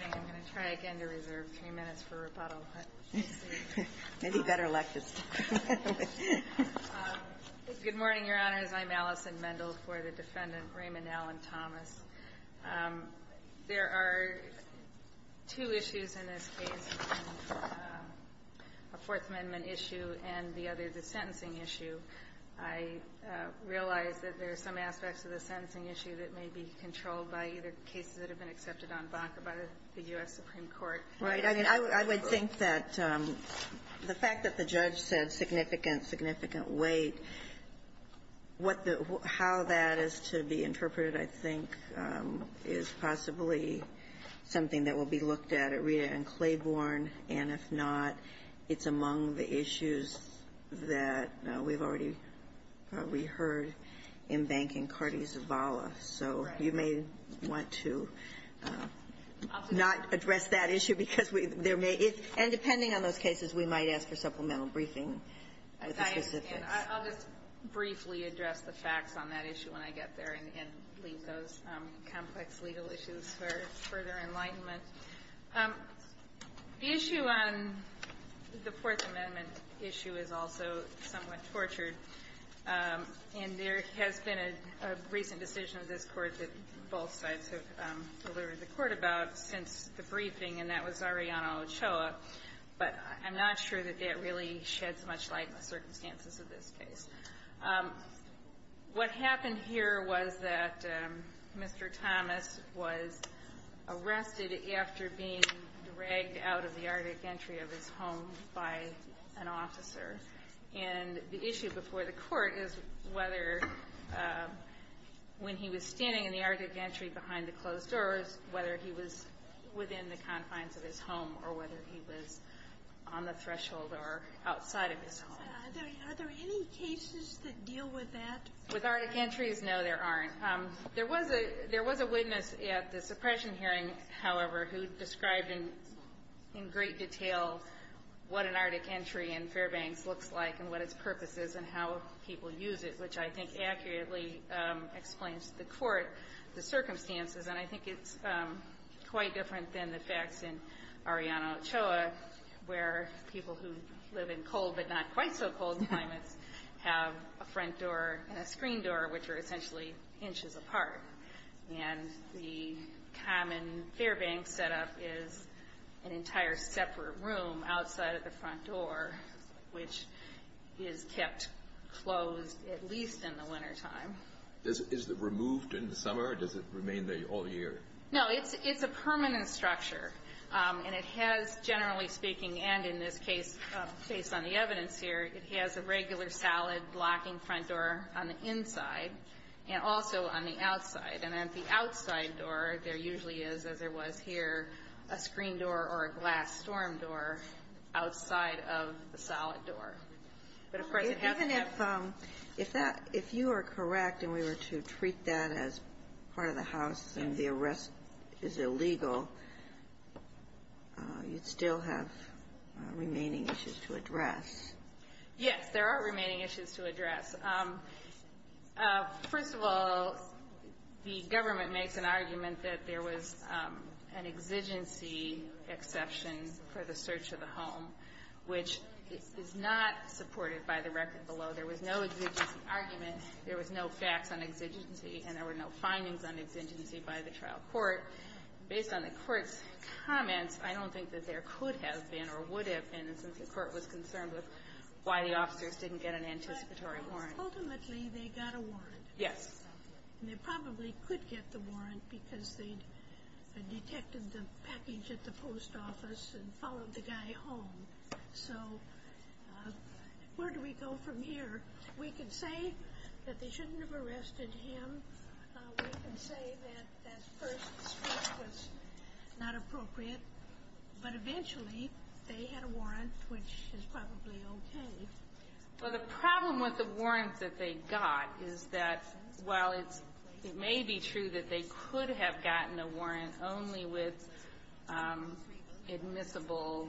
I'm going to try again to reserve three minutes for rebuttal, but we'll see. Maybe better luck this time. Good morning, Your Honors. I'm Allison Mendel for the Defendant Raymond Allen Thomas. There are two issues in this case, a Fourth Amendment issue and the other, the sentencing issue. I realize that there are some aspects of the sentencing issue that may be controlled by either cases that have been accepted en banc or by the U.S. Supreme Court. Right. I mean, I would think that the fact that the judge said significant, significant weight, how that is to be interpreted, I think, is possibly something that will be looked at at Rita and Claiborne, and if not, it's among the issues that we've already heard en banc in Cartes Vala. So you may want to not address that issue because there may be, and depending on those cases, we might ask for supplemental briefing. I'll just briefly address the facts on that issue when I get there and leave those complex legal issues for further enlightenment. The issue on the Fourth Amendment issue is also somewhat tortured. And there has been a recent decision of this Court that both sides have delivered the Court about since the briefing, and that was Arianna Ochoa. But I'm not sure that that really sheds much light on the circumstances of this case. What happened here was that Mr. Thomas was arrested after being dragged out of the arctic gantry of his home by an officer. And the issue before the Court is whether when he was standing in the arctic gantry behind the closed doors, whether he was within the confines of his home or whether he was on the threshold or outside of his home. Are there any cases that deal with that? With arctic gantries? No, there aren't. There was a witness at the suppression hearing, however, who described in great detail what an arctic gantry in Fairbanks looks like and what its purpose is and how people use it, which I think accurately explains to the Court the circumstances. And I think it's quite different than the facts in Arianna Ochoa, where people who live in cold but not quite so cold climates have a front door and a screen door, which are essentially inches apart. And the common Fairbanks setup is an entire separate room outside of the front door, which is kept closed at least in the wintertime. Is it removed in the summer, or does it remain there all year? No, it's a permanent structure. And it has, generally speaking, and in this case, based on the evidence here, it has a regular solid blocking front door on the inside and also on the outside. And at the outside door, there usually is, as there was here, a screen door or a glass storm door outside of the solid door. But, of course, it hasn't been. If that you are correct, and we were to treat that as part of the house and the arrest is illegal, you'd still have remaining issues to address. Yes, there are remaining issues to address. First of all, the government makes an argument that there was an exigency exception for the search of the home, which is not supported by the record below. There was no exigency argument. There was no facts on exigency. And there were no findings on exigency by the trial court. Based on the court's comments, I don't think that there could have been or would have been, since the court was concerned with why the officers didn't get an anticipatory warrant. Ultimately, they got a warrant. Yes. And they probably could get the warrant because they detected the package at the post office and followed the guy home. So where do we go from here? We can say that they shouldn't have arrested him. We can say that that first speech was not appropriate. But eventually, they had a warrant, which is probably okay. Well, the problem with the warrant that they got is that while it may be true that they could have gotten a warrant only with admissible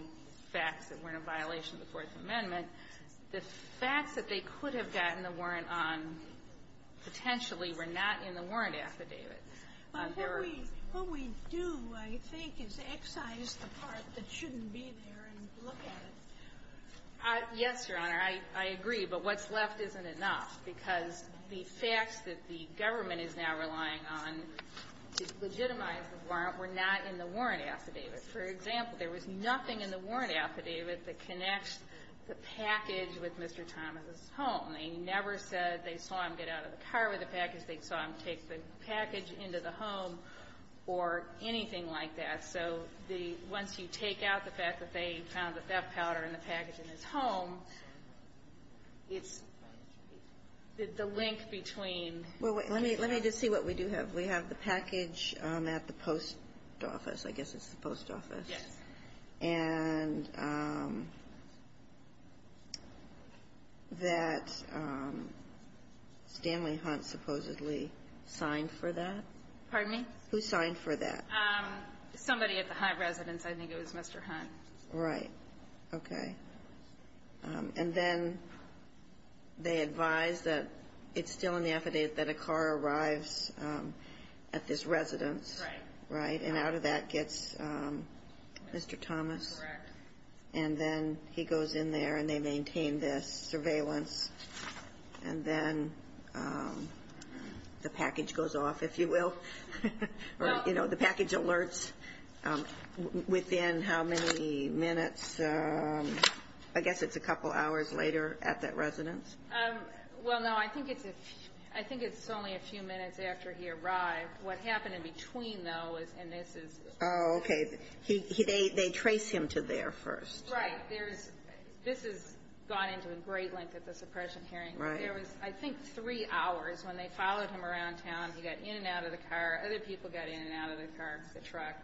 facts that weren't a violation of the Fourth Amendment, the facts that they could have gotten the warrant on potentially were not in the warrant affidavit. There were ---- But what we do, I think, is excise the part that shouldn't be there and look at it. Yes, Your Honor. I agree. But what's left isn't enough, because the facts that the government is now relying on to legitimize the warrant were not in the warrant affidavit. For example, there was nothing in the warrant affidavit that connects the package with Mr. Thomas's home. They never said they saw him get out of the car with the package. They saw him take the package into the home or anything like that. So the ---- once you take out the fact that they found the theft powder in the package in his home, it's the link between ---- Well, let me just see what we do have. We have the package at the post office. I guess it's the post office. Yes. And that Stanley Hunt supposedly signed for that. Pardon me? Who signed for that? Somebody at the Hunt residence. I think it was Mr. Hunt. Right. Okay. And then they advise that it's still in the affidavit that a car arrives at this residence. Right. And out of that gets Mr. Thomas. Correct. And then he goes in there and they maintain this surveillance. And then the package goes off, if you will. Or, you know, the package alerts within how many minutes. I guess it's a couple hours later at that residence. Well, no, I think it's only a few minutes after he arrived. What happened in between, though, and this is ---- Oh, okay. They trace him to there first. Right. This has gone into a great length at the suppression hearing. Right. There was, I think, three hours when they followed him around town. He got in and out of the car. Other people got in and out of the car, the truck.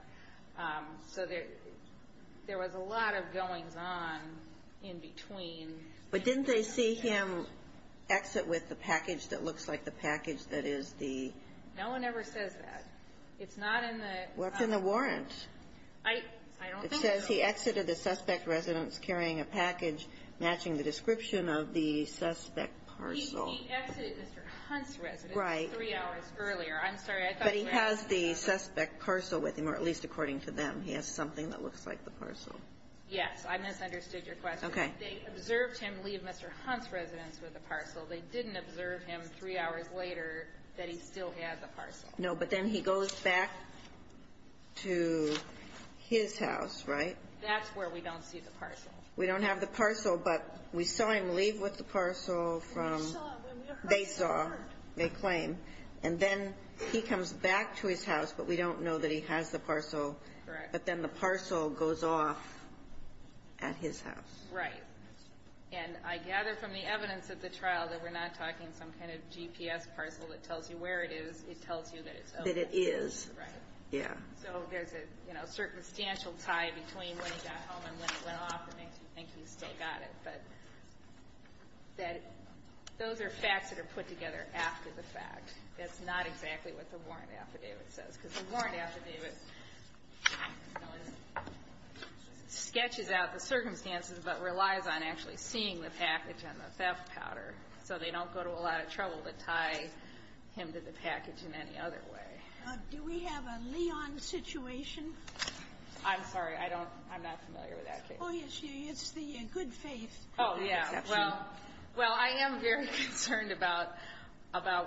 So there was a lot of goings-on in between. But didn't they see him exit with the package that looks like the package that is the ---- No one ever says that. It's not in the ---- What's in the warrant? I don't think so. It says he exited the suspect residence carrying a package matching the description of the suspect parcel. He exited Mr. Hunt's residence three hours earlier. I'm sorry. But he has the suspect parcel with him, or at least according to them, he has something that looks like the parcel. I misunderstood your question. Okay. They observed him leave Mr. Hunt's residence with the parcel. They didn't observe him three hours later that he still had the parcel. No, but then he goes back to his house, right? That's where we don't see the parcel. We don't have the parcel, but we saw him leave with the parcel from ---- They saw. They saw. They claim. And then he comes back to his house, but we don't know that he has the parcel. Correct. But then the parcel goes off at his house. Right. And I gather from the evidence of the trial that we're not talking some kind of GPS parcel that tells you where it is. It tells you that it's open. That it is. Right. Yeah. So there's a, you know, circumstantial tie between when he got home and when he went off that makes you think he's still got it. But those are facts that are put together after the fact. That's not exactly what the warrant affidavit says, because the warrant affidavit sketches out the circumstances but relies on actually seeing the package and the theft powder, so they don't go to a lot of trouble to tie him to the package in any other way. Do we have a Leon situation? I'm sorry. I don't. I'm not familiar with that case. Oh, yes. It's the good faith exception. Oh, yeah. Well, I am very concerned about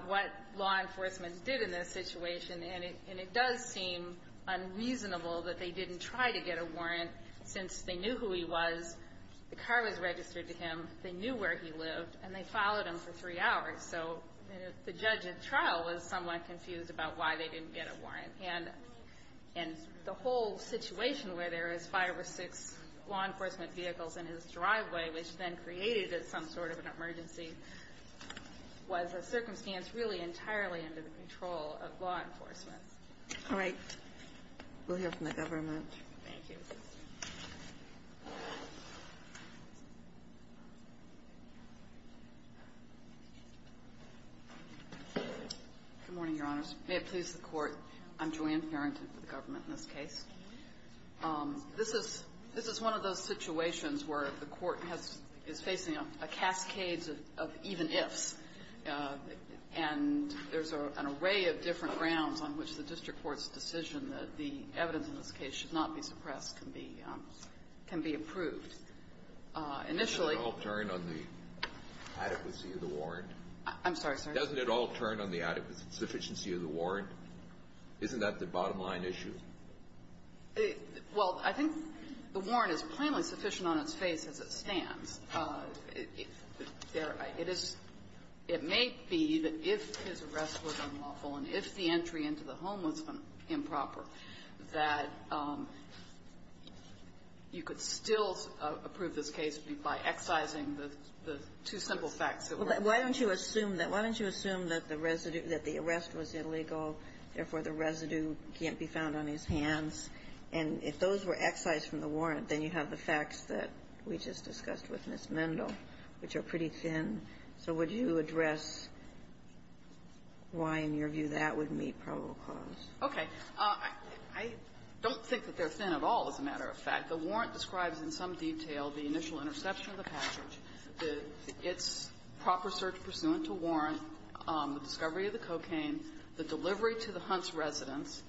what law enforcement did in this situation, and it does seem unreasonable that they didn't try to get a warrant since they knew who he was, the car was registered to him, they knew where he lived, and they followed him for three hours. So the judge at trial was somewhat confused about why they didn't get a warrant. And the whole situation where there was five or six law enforcement vehicles in his driveway, which then created some sort of an emergency, was a circumstance really entirely under the control of law enforcement. All right. We'll hear from the government. Thank you. Good morning, Your Honors. May it please the Court. I'm Joanne Farrington for the government in this case. This is one of those situations where the Court is facing a cascade of even ifs. And there's an array of different grounds on which the district court's decision that the evidence in this case should not be suppressed can be approved. Initially — Doesn't it all turn on the adequacy of the warrant? I'm sorry, sir. Doesn't it all turn on the adequacy, sufficiency of the warrant? Isn't that the bottom-line issue? Well, I think the warrant is plainly sufficient on its face as it stands. It is — it may be that if his arrest was unlawful and if the entry into the home was improper, that you could still approve this case by excising the two simple facts that were there. Why don't you assume that? Why don't you assume that the residue — that the arrest was illegal, therefore the residue can't be found on his hands? And if those were excised from the warrant, then you have the facts that we just discussed with Ms. Mendel, which are pretty thin. So would you address why, in your view, that would meet probable cause? Okay. I don't think that they're thin at all, as a matter of fact. The warrant describes in some detail the initial interception of the package, its proper search pursuant to warrant, the discovery of the cocaine, the delivery to the Hunts residence,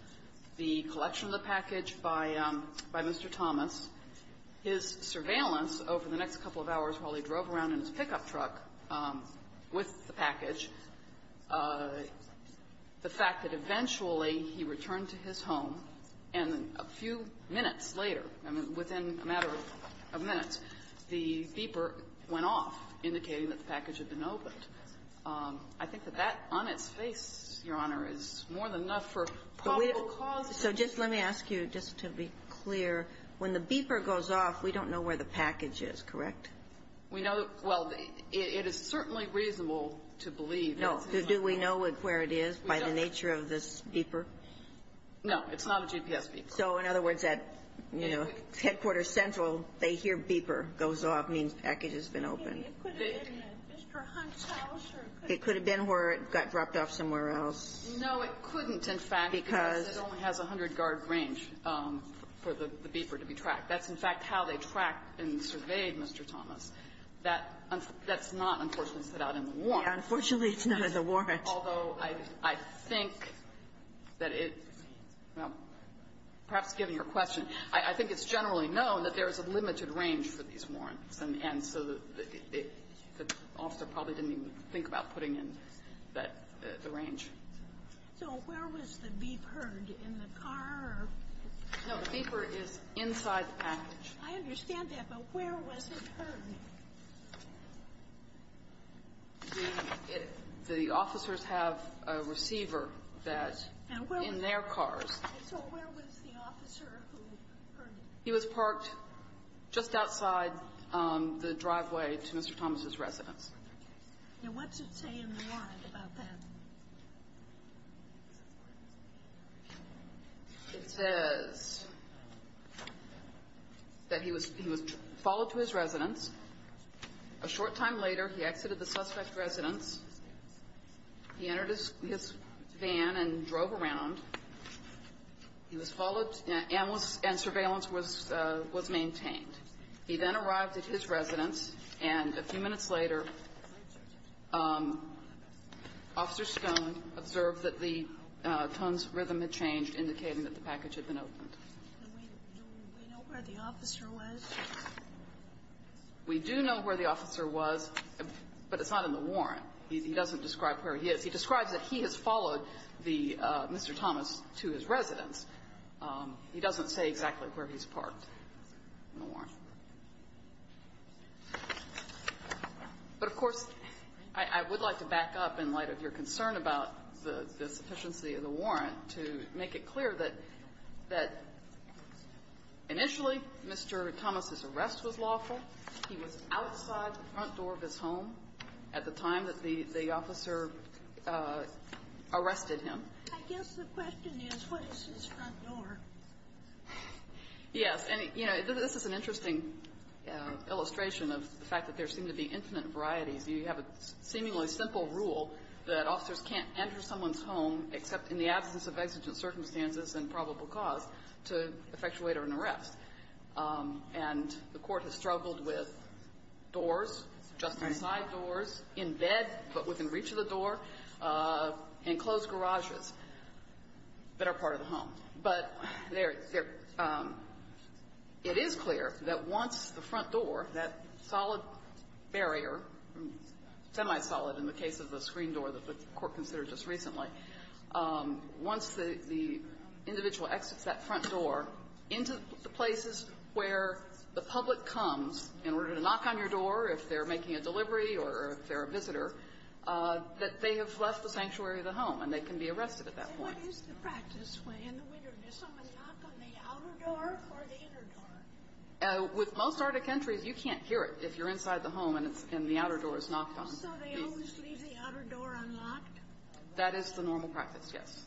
the collection of the package by Mr. Thomas, his surveillance over the next couple of hours while he drove around in his pickup truck with the package, the fact that eventually he returned to his home, and a few minutes later, I mean, within a matter of minutes, the beeper went off, indicating that the package had been So just let me ask you, just to be clear, when the beeper goes off, we don't know where the package is, correct? We know — well, it is certainly reasonable to believe. No. Do we know where it is by the nature of this beeper? No. It's not a GPS beeper. So in other words, at, you know, headquarters central, they hear beeper goes off, means package has been opened. It could have been at Mr. Hunt's house, or it could have been — It could have been where it got dropped off somewhere else. No, it couldn't, in fact, because it only has a 100-guard range for the beeper to be tracked. That's, in fact, how they tracked and surveyed Mr. Thomas. That's not, unfortunately, set out in the warrant. Unfortunately, it's not in the warrant. Although I think that it — well, perhaps given your question, I think it's generally known that there is a limited range for these warrants, and so the officer probably didn't even think about putting in that — the range. So where was the beep heard, in the car or — No. The beeper is inside the package. I understand that, but where was it heard? The officers have a receiver that — And where was —— in their cars. And so where was the officer who heard it? He was parked just outside the driveway to Mr. Thomas's residence. Now, what does it say in the warrant about that? It says that he was followed to his residence. A short time later, he exited the suspect's residence. He entered his van and drove around. He was followed, and surveillance was maintained. He then arrived at his residence, and a few minutes later, Officer Stone observed that the tone's rhythm had changed, indicating that the package had been opened. Do we know where the officer was? We do know where the officer was, but it's not in the warrant. He doesn't describe where he is. He describes that he has followed the — Mr. Thomas to his residence. He doesn't say exactly where he's parked in the warrant. But, of course, I would like to back up in light of your concern about the sufficiency of the warrant to make it clear that initially, Mr. Thomas's arrest was lawful. He was outside the front door of his home at the time that the — the officer arrested him. I guess the question is, what is his front door? Yes. And, you know, this is an interesting illustration of the fact that there seem to be infinite varieties. You have a seemingly simple rule that officers can't enter someone's home except in the absence of exigent circumstances and probable cause to effectuate an arrest. And the Court has struggled with doors, adjusting side doors, in bed but within reach of the door, enclosed garages that are part of the home. But there — it is clear that once the front door, that solid barrier, semi-solid in the case of the screen door that the Court considered just recently, once the individual exits that front door into the places where the public comes in order to knock on your door if they're making a delivery or if they're a visitor, that they have left the sanctuary of the home, and they can be arrested at that point. What is the practice when, in the winter, does someone knock on the outer door or the inner door? With most Arctic entries, you can't hear it if you're inside the home and it's — and the outer door is knocked on. So they always leave the outer door unlocked? That is the normal practice, yes.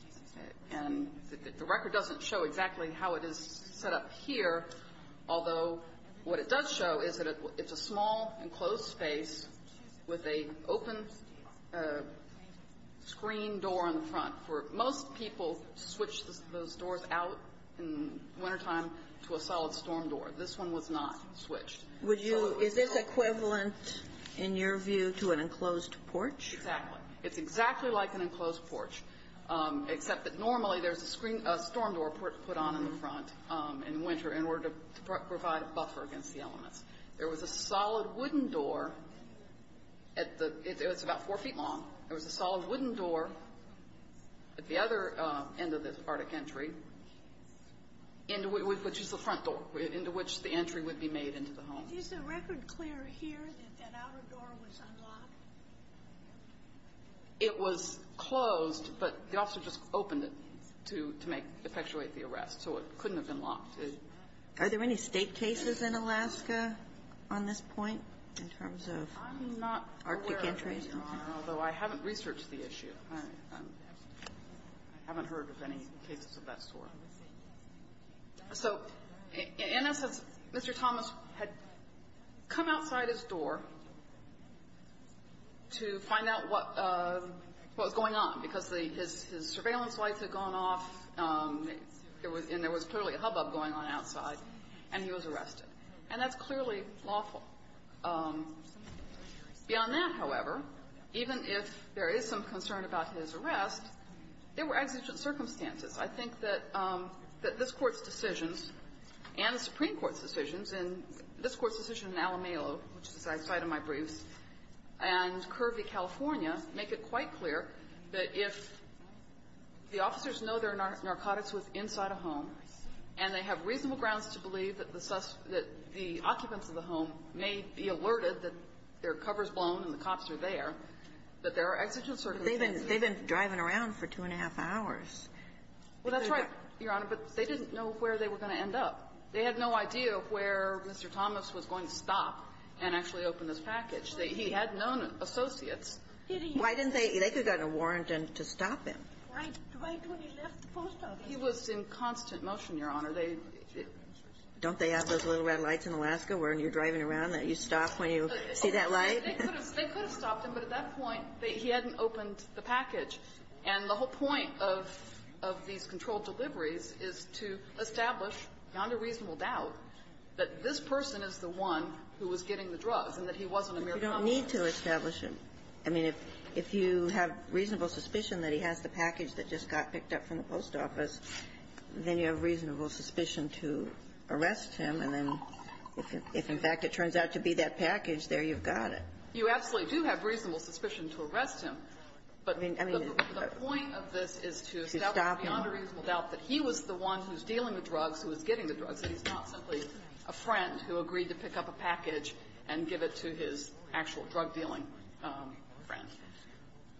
And the record doesn't show exactly how it is set up here, although what it does show is that it's a small, enclosed space with an open screen door on the front. For most people, switch those doors out in wintertime to a solid storm door. This one was not switched. Would you — is this equivalent, in your view, to an enclosed porch? Exactly. It's exactly like an enclosed porch, except that normally there's a storm door put on in the front in winter in order to provide a buffer against the elements. There was a solid wooden door at the — it was about four feet long. There was a solid wooden door at the other end of this Arctic entry, which is the front door, into which the entry would be made into the home. Is the record clear here that that outer door was unlocked? It was closed, but the officer just opened it to make — effectuate the arrest, so it couldn't have been locked. Are there any State cases in Alaska on this point in terms of Arctic entries? I'm not aware of any, although I haven't researched the issue. I haven't heard of any cases of that sort. So, in essence, Mr. Thomas had come outside his door to find out what was going on, because his surveillance lights had gone off, and there was clearly a hubbub going on outside, and he was arrested. And that's clearly lawful. Beyond that, however, even if there is some concern about his arrest, there were not exigent circumstances. I think that this Court's decisions and the Supreme Court's decisions, and this Court's decision in Alamelo, which is outside of my briefs, and Curvey, California, make it quite clear that if the officers know there are narcotics inside a home and they have reasonable grounds to believe that the occupants of the home may be alerted that their cover is blown and the cops are there, that there are exigent circumstances to believe that the occupants of the home may be alerted. make it quite clear that if the officers know there are narcotics inside a home and they have reasonable grounds to believe that the occupants of the home may be alerted And the whole point of these controlled deliveries is to establish, beyond a reasonable doubt, that this person is the one who was getting the drugs and that he wasn't a mere convict. You don't need to establish it. I mean, if you have reasonable suspicion that he has the package that just got picked up from the post office, then you have reasonable suspicion to arrest him, and then if, in fact, it turns out to be that package, there you've got it. You absolutely do have reasonable suspicion to arrest him. But the point of this is to establish, beyond a reasonable doubt, that he was the one who was dealing the drugs, who was getting the drugs, and he's not simply a friend who agreed to pick up a package and give it to his actual drug-dealing friend.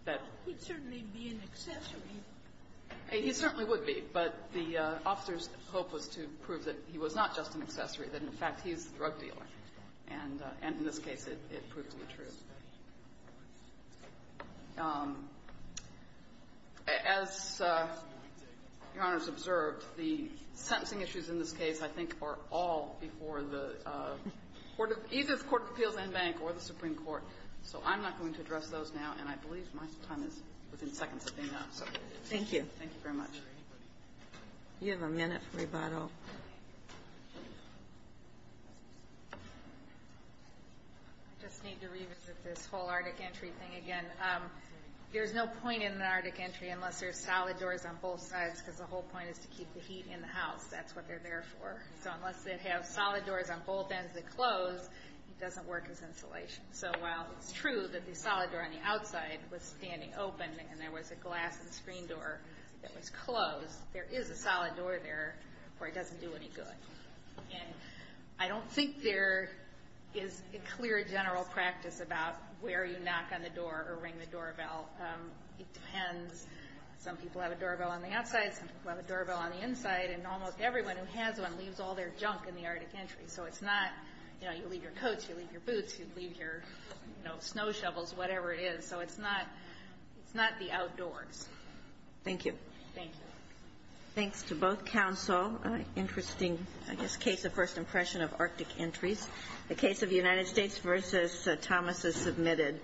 That he'd certainly be an accessory. He certainly would be, but the officer's hope was to prove that he was not just an accessory, that, in fact, he's the drug dealer. And in this case, it proved to be true. As Your Honor has observed, the sentencing issues in this case, I think, are all before the Court of Appeals, either the Court of Appeals and Bank or the Supreme Court. So I'm not going to address those now, and I believe my time is within seconds of being out. Thank you. Thank you very much. You have a minute for rebuttal. I just need to revisit this whole Arctic entry thing again. There's no point in an Arctic entry unless there's solid doors on both sides, because the whole point is to keep the heat in the house. That's what they're there for. So unless they have solid doors on both ends that close, it doesn't work as insulation. So while it's true that the solid door on the outside was standing open and there was a glass and screen door that was closed, there is a solid door there where it doesn't do any good. And I don't think there is a clear general practice about where you knock on the door or ring the doorbell. It depends. Some people have a doorbell on the outside. Some people have a doorbell on the inside. And almost everyone who has one leaves all their junk in the Arctic entry. So it's not, you know, you leave your coats, you leave your boots, you leave your, you know, snow shovels, whatever it is. So it's not the outdoors. Thank you. Thank you. Thanks to both counsel. Interesting, I guess, case of first impression of Arctic entries. The case of the United States versus Thomas is submitted.